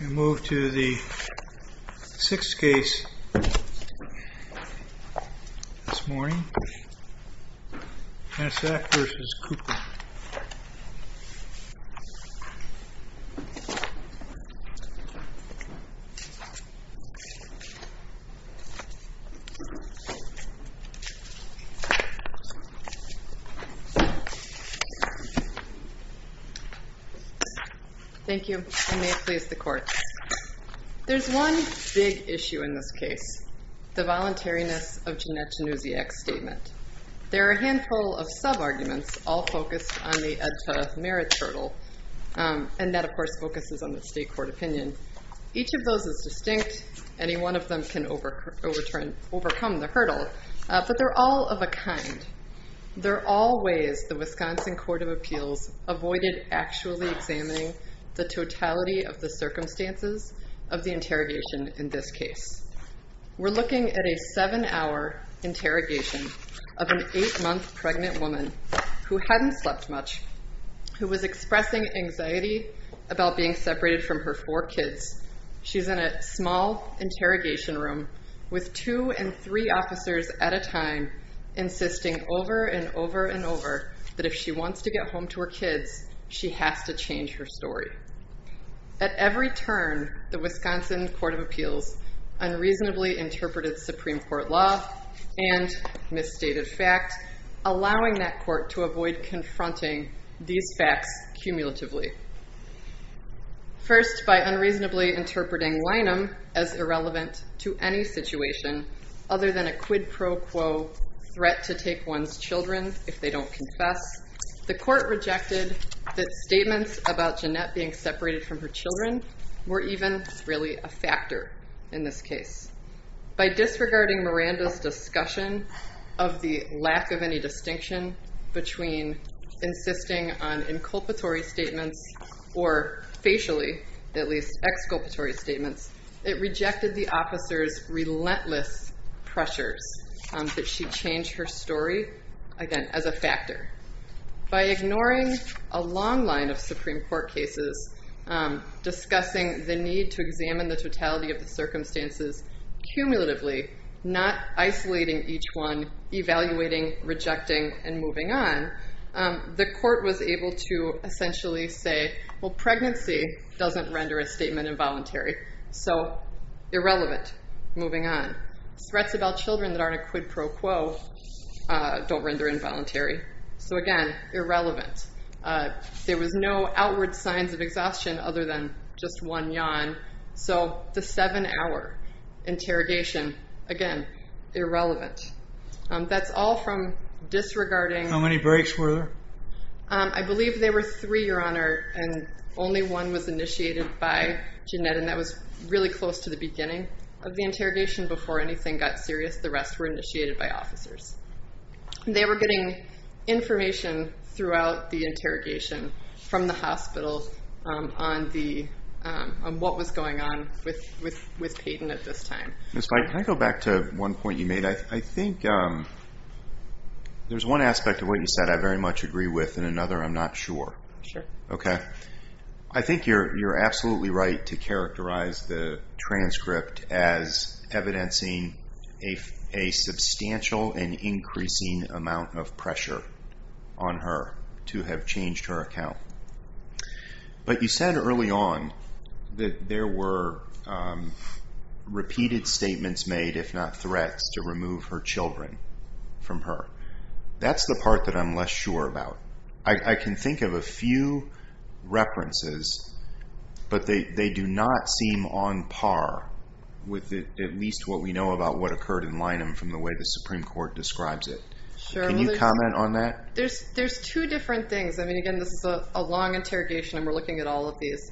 We move to the sixth case this morning, Janusiak v. Cooper. There is one big issue in this case, the voluntariness of Janette Janusiak's statement. There are a handful of sub-arguments, all focused on the Ed Tutteth Merit Hurdle, and that of course focuses on the state court opinion. Each of those is distinct. Any one of them can overcome the hurdle, but they're all of a kind. They're all ways the Wisconsin Court of Appeals avoided actually examining the totality of the circumstances of the interrogation in this case. We're looking at a seven-hour interrogation of an eight-month pregnant woman who hadn't slept much, who was expressing anxiety about being separated from her four kids. She's in a small interrogation room with two and three officers at a time, insisting over and over and over that if she wants to get home to her kids, she has to change her story. At every turn, the Wisconsin Court of Appeals unreasonably interpreted Supreme Court law and misstated fact, allowing that court to avoid confronting these facts cumulatively. First, by unreasonably interpreting linum as irrelevant to any situation other than a quid pro quo threat to take one's children if they don't confess, the court rejected that statements about Jeanette being separated from her children were even really a factor in this case. By disregarding Miranda's discussion of the lack of any distinction between insisting on inculpatory statements or facially, at least, exculpatory statements, it rejected the officer's relentless pressures that she change her story, again, as a factor. By ignoring a long line of Supreme Court cases discussing the need to examine the totality of the circumstances cumulatively, not isolating each one, evaluating, rejecting, and moving on, the court was able to essentially say, well, pregnancy doesn't render a statement involuntary, so irrelevant, moving on. Threats about children that aren't a quid pro quo don't render involuntary, so again, irrelevant. There was no outward signs of exhaustion other than just one yawn, so the seven-hour interrogation, again, irrelevant. That's all from disregarding- How many breaks were there? I believe there were three, Your Honor, and only one was initiated by Jeanette, and that was really close to the beginning of the interrogation. Before anything got serious, the rest were initiated by officers. They were getting information throughout the interrogation from the hospital on what was going on with Peyton at this time. Ms. Mike, can I go back to one point you made? I think there's one aspect of what you said I very much agree with and another I'm not sure. Sure. Okay. I think you're absolutely right to characterize the transcript as evidencing a substantial and increasing amount of pressure on her to have changed her account, but you said early on that there were repeated statements made, if not threats, to remove her children from her. That's the part that I'm less sure about. I can think of a few references, but they do not seem on par with at least what we know about what occurred in Linum from the way the Supreme Court describes it. Can you comment on that? There's two different things. I mean, again, this is a long interrogation, and we're looking at all of these.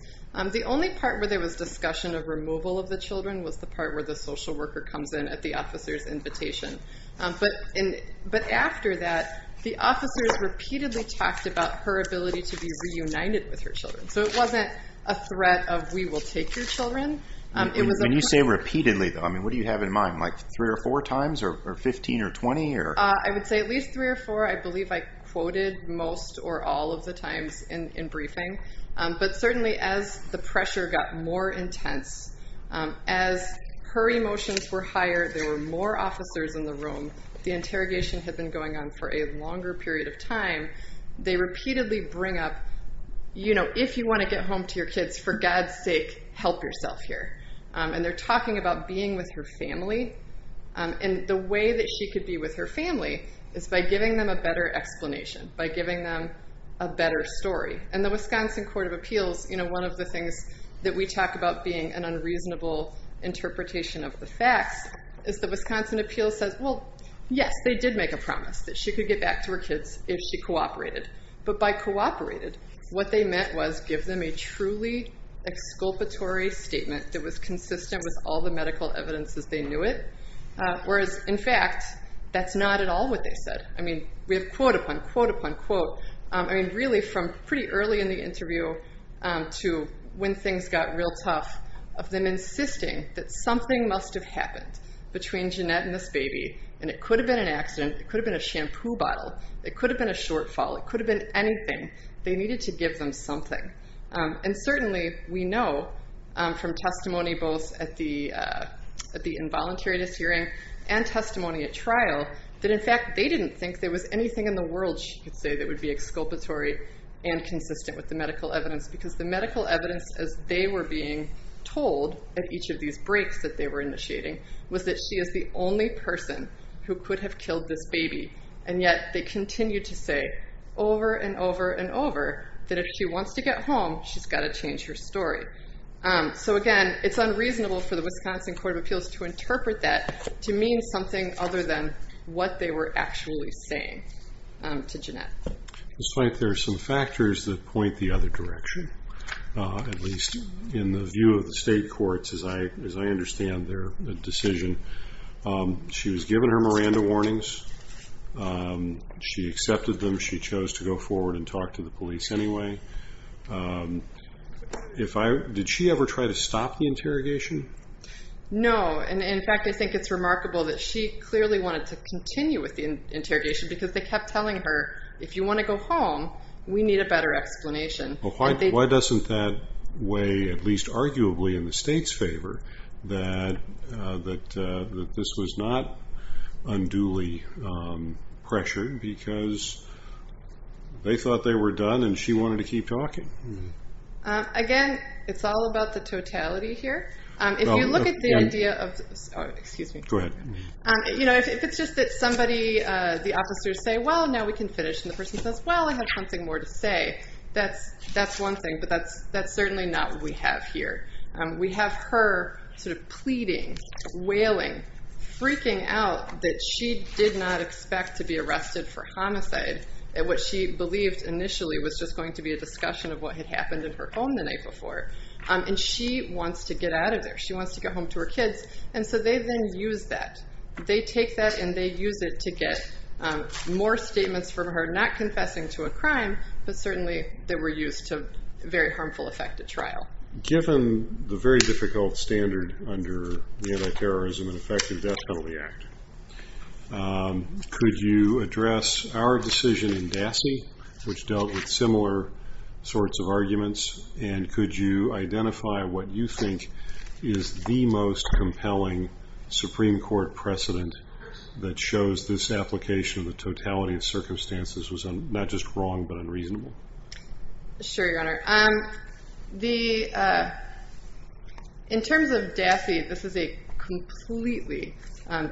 The only part where there was discussion of removal of the children was the part where the social worker comes in at the officer's invitation, but after that, the officers repeatedly talked about her ability to be reunited with her children, so it wasn't a threat of we will take your children. When you say repeatedly, though, I mean, what do you have in mind, like three or four times or 15 or 20? I would say at least three or four. I believe I quoted most or all of the times in briefing, but certainly as the pressure got more intense, as her emotions were higher, there were more officers in the room. The interrogation had been going on for a longer period of time. They repeatedly bring up, you know, if you want to get home to your kids, for God's sake, help yourself here. And they're talking about being with her family, and the way that she could be with her family is by giving them a better explanation, by giving them a better story. And the Wisconsin Court of Appeals, you know, one of the things that we talk about being an unreasonable interpretation of the facts is the Wisconsin Appeals says, well, yes, they did make a promise that she could get back to her kids if she cooperated. But by cooperated, what they meant was give them a truly exculpatory statement that was consistent with all the medical evidence that they knew it, whereas, in fact, that's not at all what they said. I mean, we have quote upon quote upon quote, I mean, really from pretty early in the interview to when things got real tough, of them insisting that something must have happened between Jeanette and this baby, and it could have been an accident, it could have been a shampoo bottle, it could have been a shortfall, it could have been anything. They needed to give them something. And certainly, we know from testimony both at the involuntary dishearing and testimony at trial that, in fact, they didn't think there was anything in the world, she could medical evidence because the medical evidence as they were being told at each of these breaks that they were initiating was that she is the only person who could have killed this baby. And yet they continue to say over and over and over that if she wants to get home, she's got to change her story. So again, it's unreasonable for the Wisconsin Court of Appeals to interpret that to mean something other than what they were actually saying to Jeanette. It's like there are some factors that point the other direction, at least in the view of the state courts as I understand their decision. She was given her Miranda warnings. She accepted them. She chose to go forward and talk to the police anyway. Did she ever try to stop the interrogation? No. And in fact, I think it's remarkable that she clearly wanted to continue with the interrogation because they kept telling her, if you want to go home, we need a better explanation. Why doesn't that weigh, at least arguably in the state's favor, that this was not unduly pressured because they thought they were done and she wanted to keep talking? Again, it's all about the totality here. If you look at the idea of... Excuse me. Go ahead. If it's just that somebody, the officers say, well, now we can finish, and the person says, well, I have something more to say, that's one thing, but that's certainly not what we have here. We have her pleading, wailing, freaking out that she did not expect to be arrested for homicide and what she believed initially was just going to be a discussion of what had happened in her home the night before, and she wants to get out of there. She wants to get home to her kids. They then use that. They take that and they use it to get more statements from her, not confessing to a crime, but certainly they were used to very harmful effect at trial. Given the very difficult standard under the Anti-Terrorism and Effective Death Penalty Act, could you address our decision in DASI, which dealt with similar sorts of arguments, and could you identify what you think is the most compelling Supreme Court precedent that shows this application of the totality of circumstances was not just wrong, but unreasonable? Sure, Your Honor. In terms of DASI, this is a completely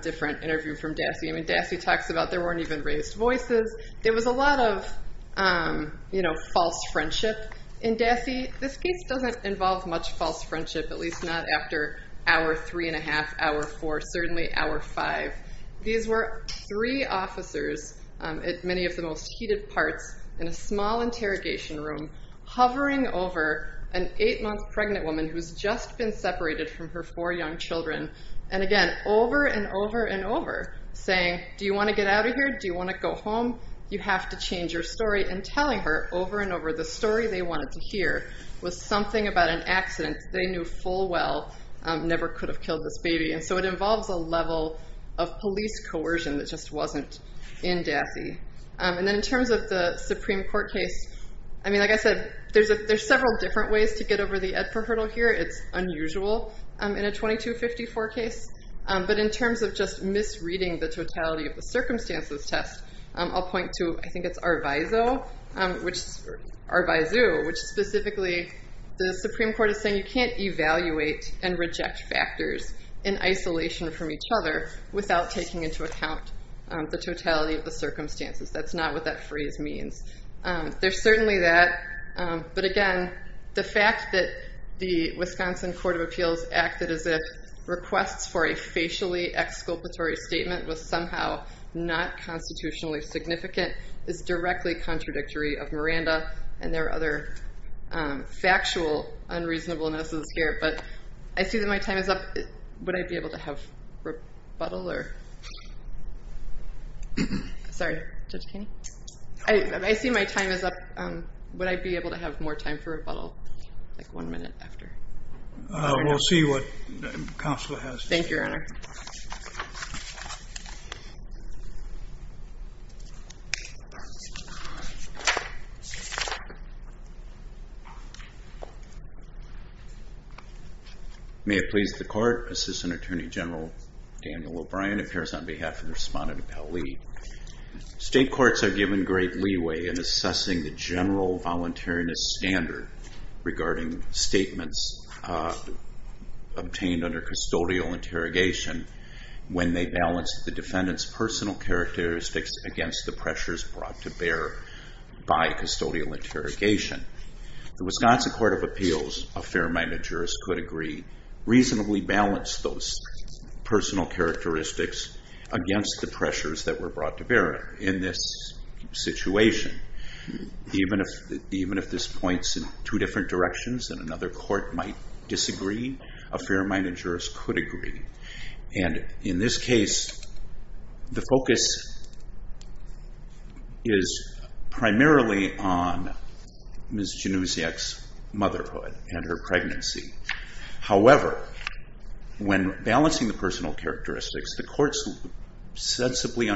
different interview from DASI. I mean, DASI talks about there weren't even raised voices. There was a lot of false friendship in DASI. This case doesn't involve much false friendship, at least not after hour three and a half, hour four, certainly hour five. These were three officers at many of the most heated parts in a small interrogation room hovering over an eight-month pregnant woman who's just been separated from her four young children, and again, over and over and over, saying, do you want to get out of here? Do you want to go home? You have to change your story, and telling her over and over the story they wanted to hear was something about an accident. They knew full well, never could have killed this baby, and so it involves a level of police coercion that just wasn't in DASI. And then in terms of the Supreme Court case, I mean, like I said, there's several different ways to get over the EDFA hurdle here. It's unusual in a 2254 case, but in terms of just misreading the totality of the circumstances of this test, I'll point to, I think it's Arvizu, which specifically, the Supreme Court is saying you can't evaluate and reject factors in isolation from each other without taking into account the totality of the circumstances. That's not what that phrase means. There's certainly that, but again, the fact that the Wisconsin Court of Appeals acted as if requests for a facially exculpatory statement was somehow not constitutionally significant is directly contradictory of Miranda, and there are other factual unreasonableness here. But I see that my time is up. Would I be able to have rebuttal? Sorry. Judge Kainey? I see my time is up. Would I be able to have more time for rebuttal, like one minute after? We'll see what counsel has to say. Thank you, Your Honor. May it please the Court, Assistant Attorney General Daniel O'Brien appears on behalf of the respondent, Appell Lee. State courts are given great leeway in assessing the general voluntariness standard regarding statements obtained under custodial interrogation when they balance the defendant's personal characteristics against the pressures brought to bear by custodial interrogation. The Wisconsin Court of Appeals, a fair amount of jurors could agree, reasonably balanced those personal characteristics against the pressures that were brought to bear in this situation. Even if this points in two different directions and another court might disagree, a fair amount of jurors could agree. In this case, the focus is primarily on Ms. Januziak's motherhood and her pregnancy. However, when balancing the personal characteristics, the courts sensibly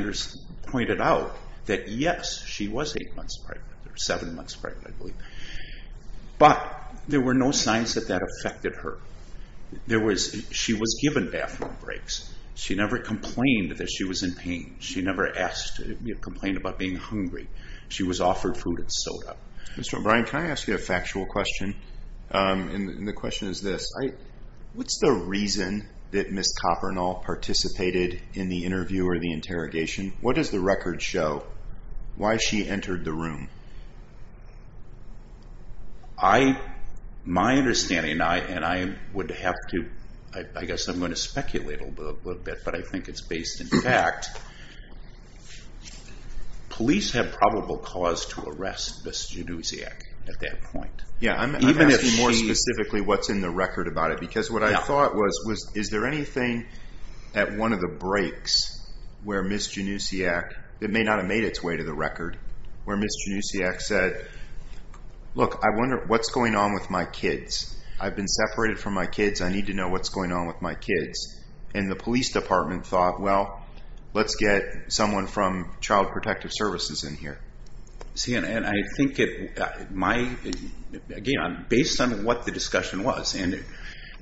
pointed out that yes, she was eight months pregnant or seven months pregnant, I believe, but there were no signs that that affected her. She was given bathroom breaks. She never complained that she was in pain. She never complained about being hungry. She was offered food and soda. Mr. O'Brien, can I ask you a factual question? The question is this, what's the reason that Ms. Kopernol participated in the interview or the interrogation? What does the record show? Why she entered the room? My understanding, and I would have to, I guess I'm going to speculate a little bit, but I think it's based in fact, police have probable cause to arrest Ms. Januziak at that point. I'm asking more specifically what's in the record about it because what I thought was, is there anything at one of the breaks where Ms. Januziak, it may not have made its way to the record, where Ms. Januziak said, look, I wonder what's going on with my kids. I've been separated from my kids. I need to know what's going on with my kids. And the police department thought, well, let's get someone from child protective services in here. And I think, again, based on what the discussion was, and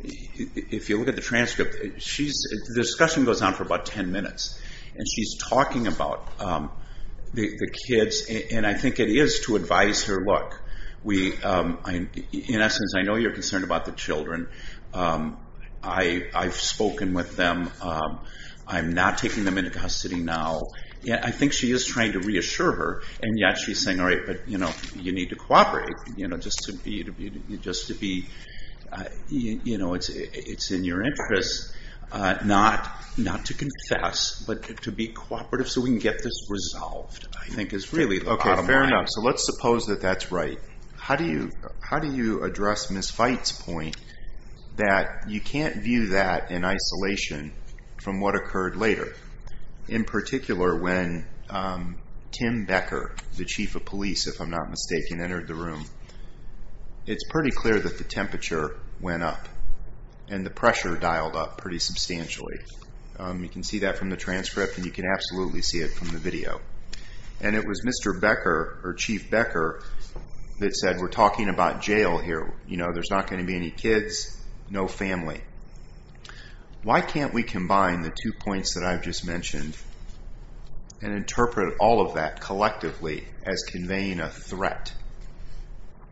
if you look at the transcript, the discussion goes on for about 10 minutes and she's talking about the kids and I think it is to advise her, look, in essence, I know you're concerned about the children. I've spoken with them. I'm not taking them into custody now. I think she is trying to reassure her and yet she's saying, all right, but you need to cooperate just to be, it's in your interest not to confess, but to be cooperative so we can get this resolved, I think is really the bottom line. Okay, fair enough. So let's suppose that that's right. How do you address Ms. Fite's point that you can't view that in isolation from what occurred later? In particular, when Tim Becker, the chief of police, if I'm not mistaken, entered the room, it's pretty clear that the temperature went up and the pressure dialed up pretty substantially. You can see that from the transcript and you can absolutely see it from the video. And it was Mr. Becker, or Chief Becker, that said, we're talking about jail here. There's not going to be any kids, no family. Why can't we combine the two points that I've just mentioned and interpret all of that collectively as conveying a threat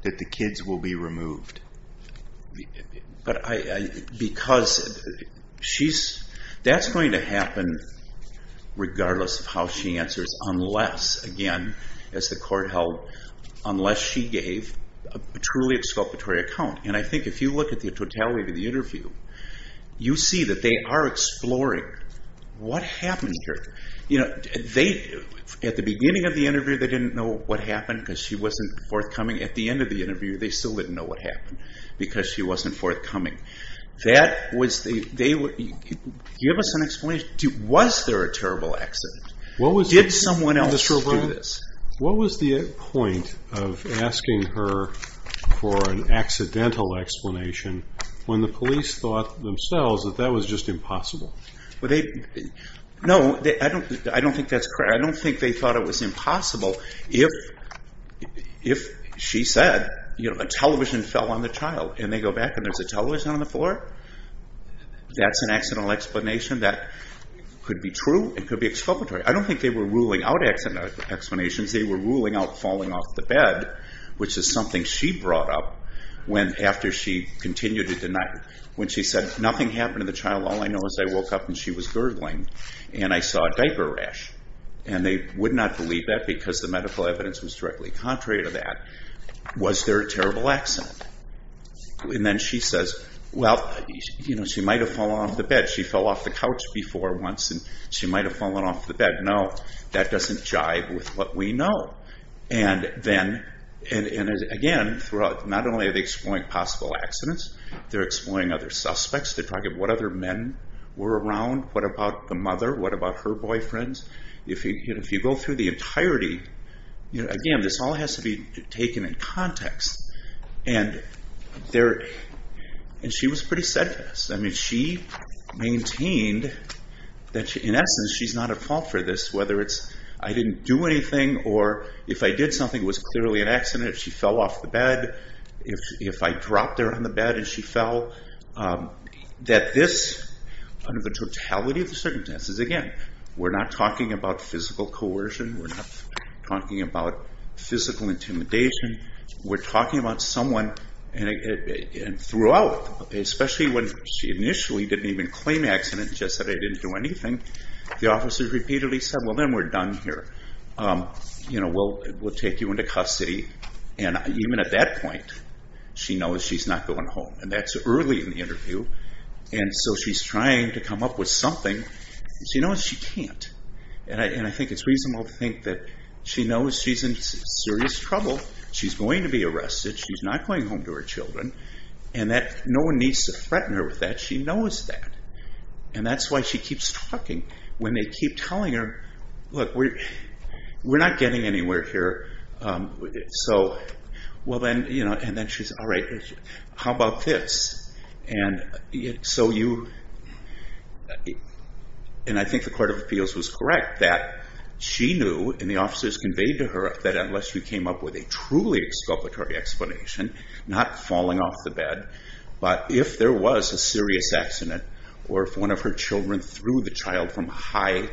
that the kids will be removed? Because that's going to happen regardless of how she answers, unless, again, as the court held, unless she gave a truly exculpatory account. And I think if you look at the totality of the interview, you see that they are exploring what happened here. At the beginning of the interview, they didn't know what happened because she wasn't forthcoming. At the end of the interview, they still didn't know what happened because she wasn't forthcoming. That was the, give us an explanation. Was there a terrible accident? Did someone else do this? What was the point of asking her for an accidental explanation when the police thought themselves that that was just impossible? No, I don't think that's correct. I don't think they thought it was impossible if she said, a television fell on the child and they go back and there's a television on the floor, that's an accidental explanation that could be true, it could be exculpatory. I don't think they were ruling out explanations, they were ruling out falling off the bed, which is something she brought up after she continued to deny, when she said, nothing happened to the child. All I know is I woke up and she was gurgling and I saw a diaper rash. And they would not believe that because the medical evidence was directly contrary to that. Was there a terrible accident? And then she says, well, she might have fallen off the bed. She fell off the couch before once and she might have fallen off the bed. No, that doesn't jive with what we know. And again, not only are they exploring possible accidents, they're exploring other suspects, they're talking about what other men were around, what about the mother, what about her boyfriends. If you go through the entirety, again, this all has to be taken in context. And she was pretty steadfast. She maintained that in essence she's not at fault for this, whether it's I didn't do anything or if I did something, it was clearly an accident, if she fell off the bed, if I dropped her on the bed and she fell, that this, under the totality of the circumstances, again, we're not talking about physical coercion, we're not talking about physical intimidation, we're talking about someone, and throughout, especially when she initially didn't even claim accident, just that I didn't do anything, the officers repeatedly said, well, then we're done here, we'll take you into custody. And even at that point, she knows she's not going home, and that's early in the interview. And so she's trying to come up with something, and she knows she can't, and I think it's in serious trouble, she's going to be arrested, she's not going home to her children, and that no one needs to threaten her with that, she knows that. And that's why she keeps talking when they keep telling her, look, we're not getting anywhere here, so, well, then, and then she's, all right, how about this? And so you, and I think the Court of Appeals was correct that she knew, and the officers conveyed to her that unless you came up with a truly exculpatory explanation, not falling off the bed, but if there was a serious accident, or if one of her children threw the child from a high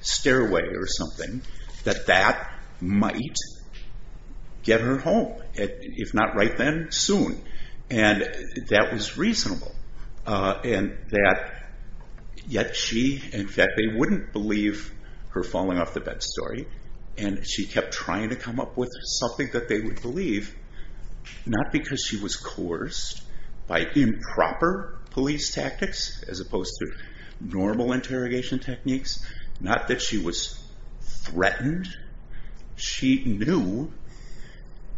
stairway or something, that that might get her home, if not right then, soon. And that was reasonable, and that, yet she, in fact, they wouldn't believe her falling off the bed story, and she kept trying to come up with something that they would believe, not because she was coerced by improper police tactics, as opposed to normal interrogation techniques, not that she was threatened, she knew,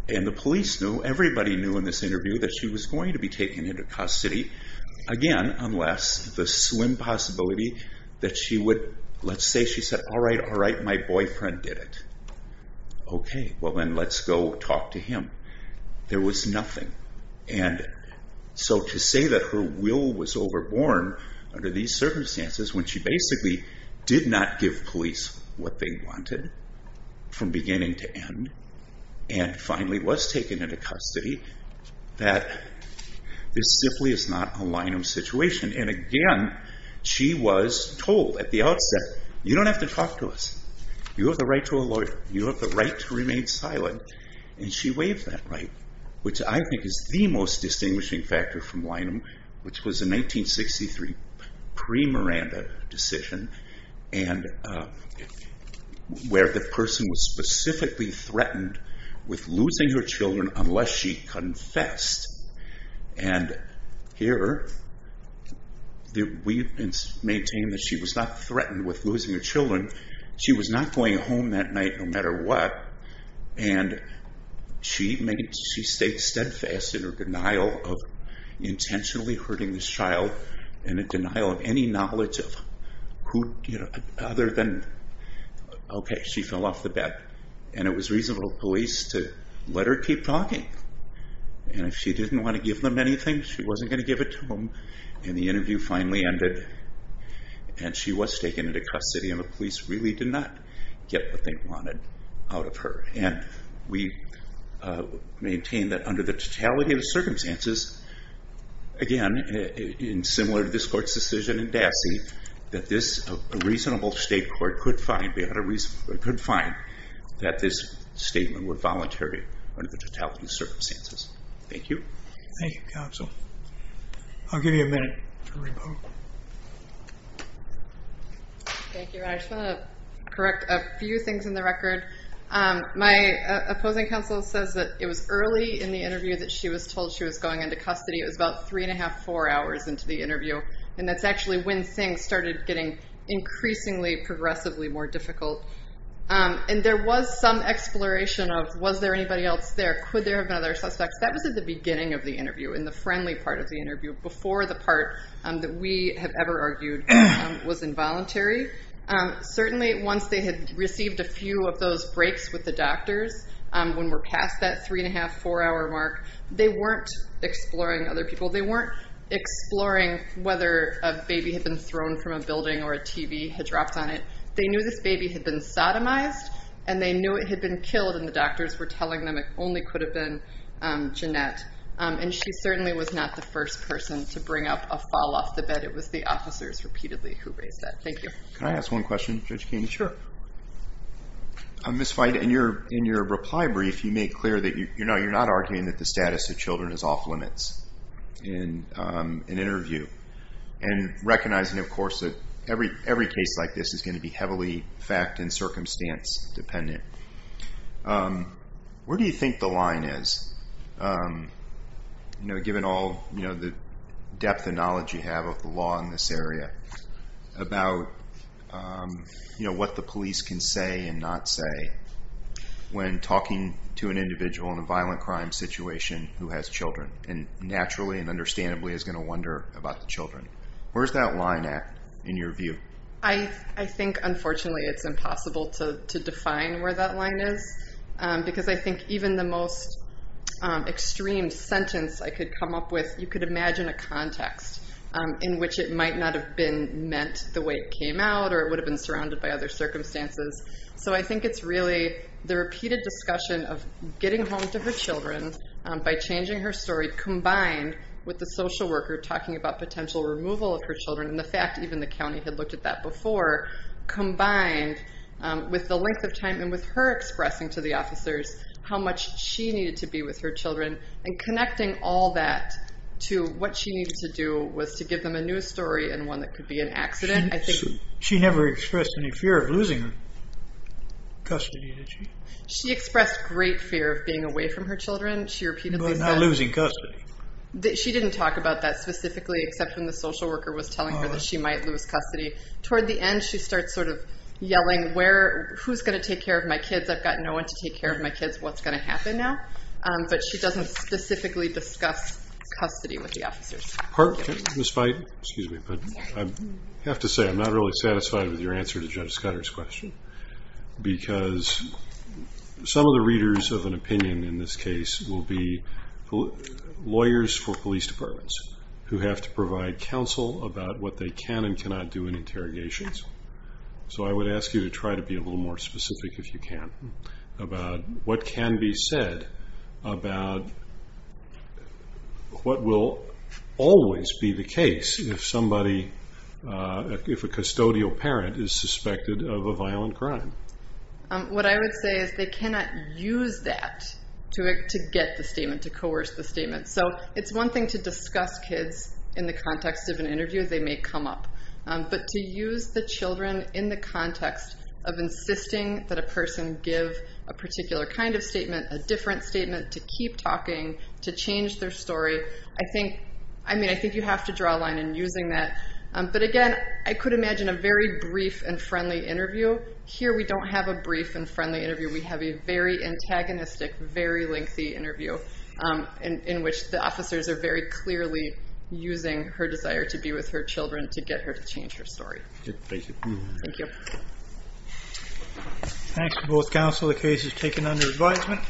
and the police knew, everybody knew in this interview that she was going to be taken into custody, again, unless the slim possibility that she would, let's say, she said, all right, all right, my boyfriend did it, okay, well, then, let's go talk to him. There was nothing, and so to say that her will was overborne under these circumstances, when she basically did not give police what they wanted from beginning to end, and finally was taken into custody, that this simply is not a line-of-situation, and again, she was told at the outset, you don't have to talk to us, you have the right to a lawyer, you have the right to remain silent, and she waived that right, which I think is the most distinguishing factor from Lynham, which was a 1963 pre-Miranda decision, and where the person was specifically threatened with losing her children unless she confessed, and here, we maintain that she was not threatened with losing her children, she was not going home that night, no matter what, and she stayed steadfast in her denial of intentionally hurting this child, and a denial of any knowledge of who, other than, okay, she fell off the and if she didn't want to give them anything, she wasn't going to give it to them, and the interview finally ended, and she was taken into custody, and the police really did not get what they wanted out of her, and we maintain that under the totality of the circumstances, again, in similar to this court's decision in Dassey, that this, a reasonable state court could find that this statement were voluntary under the totality of the circumstances. Thank you. Thank you, counsel. I'll give you a minute to remove. Thank you. I just want to correct a few things in the record. My opposing counsel says that it was early in the interview that she was told she was going into custody, it was about three and a half, four hours into the interview, and that's actually when things started getting increasingly, progressively more difficult, and there was some exploration of, was there anybody else there? Could there have been other suspects? That was at the beginning of the interview, in the friendly part of the interview, before the part that we have ever argued was involuntary. Certainly, once they had received a few of those breaks with the doctors, when we're past that three and a half, four hour mark, they weren't exploring other people. They weren't exploring whether a baby had been thrown from a building or a TV had dropped on it. They knew this baby had been sodomized, and they knew it had been killed, and the doctors were telling them it only could have been Jeanette, and she certainly was not the first person to bring up a fall off the bed. It was the officers repeatedly who raised that. Thank you. Can I ask one question, Judge Keeney? Sure. Ms. Feight, in your reply brief, you made clear that you're not arguing that the status of children is off limits. In an interview, and recognizing, of course, that every case like this is going to be heavily fact and circumstance dependent. Where do you think the line is, given all the depth and knowledge you have of the law in this area, about what the police can say and not say when talking to an individual in a violent crime situation who has children, and naturally and understandably is going to wonder about the children? Where is that line at, in your view? I think, unfortunately, it's impossible to define where that line is, because I think even the most extreme sentence I could come up with, you could imagine a context in which it might not have been meant the way it came out, or it would have been surrounded by other circumstances. So I think it's really the repeated discussion of getting home to her children by changing her story, combined with the social worker talking about potential removal of her children, and the fact even the county had looked at that before, combined with the length of time and with her expressing to the officers how much she needed to be with her children, and connecting all that to what she needed to do was to give them a new story and one that could be an accident. She never expressed any fear of losing custody, did she? She expressed great fear of being away from her children. But not losing custody? She didn't talk about that specifically, except when the social worker was telling her that she might lose custody. Toward the end, she starts sort of yelling, who's going to take care of my kids? I've got no one to take care of my kids. What's going to happen now? But she doesn't specifically discuss custody with the officers. I have to say I'm not really satisfied with your answer to Judge Scudder's question, because some of the readers of an opinion in this case will be lawyers for police departments who have to provide counsel about what they can and cannot do in interrogations. So I would ask you to try to be a little more specific, if you can, about what can be said about what will always be the case if a custodial parent is suspected of a violent crime. What I would say is they cannot use that to get the statement, to coerce the statement. So it's one thing to discuss kids in the context of an interview. They may come up. But to use the children in the context of insisting that a person give a particular kind of statement, a different statement, to keep talking, to change their story, I think you have to draw a line in using that. But again, I could imagine a very brief and friendly interview. Here we don't have a brief and friendly interview. We have a very antagonistic, very lengthy interview in which the officers are very clearly using her desire to be with her children to get her to change her story. Thank you. Thank you. Thanks to both counsel. The case is taken under advisement.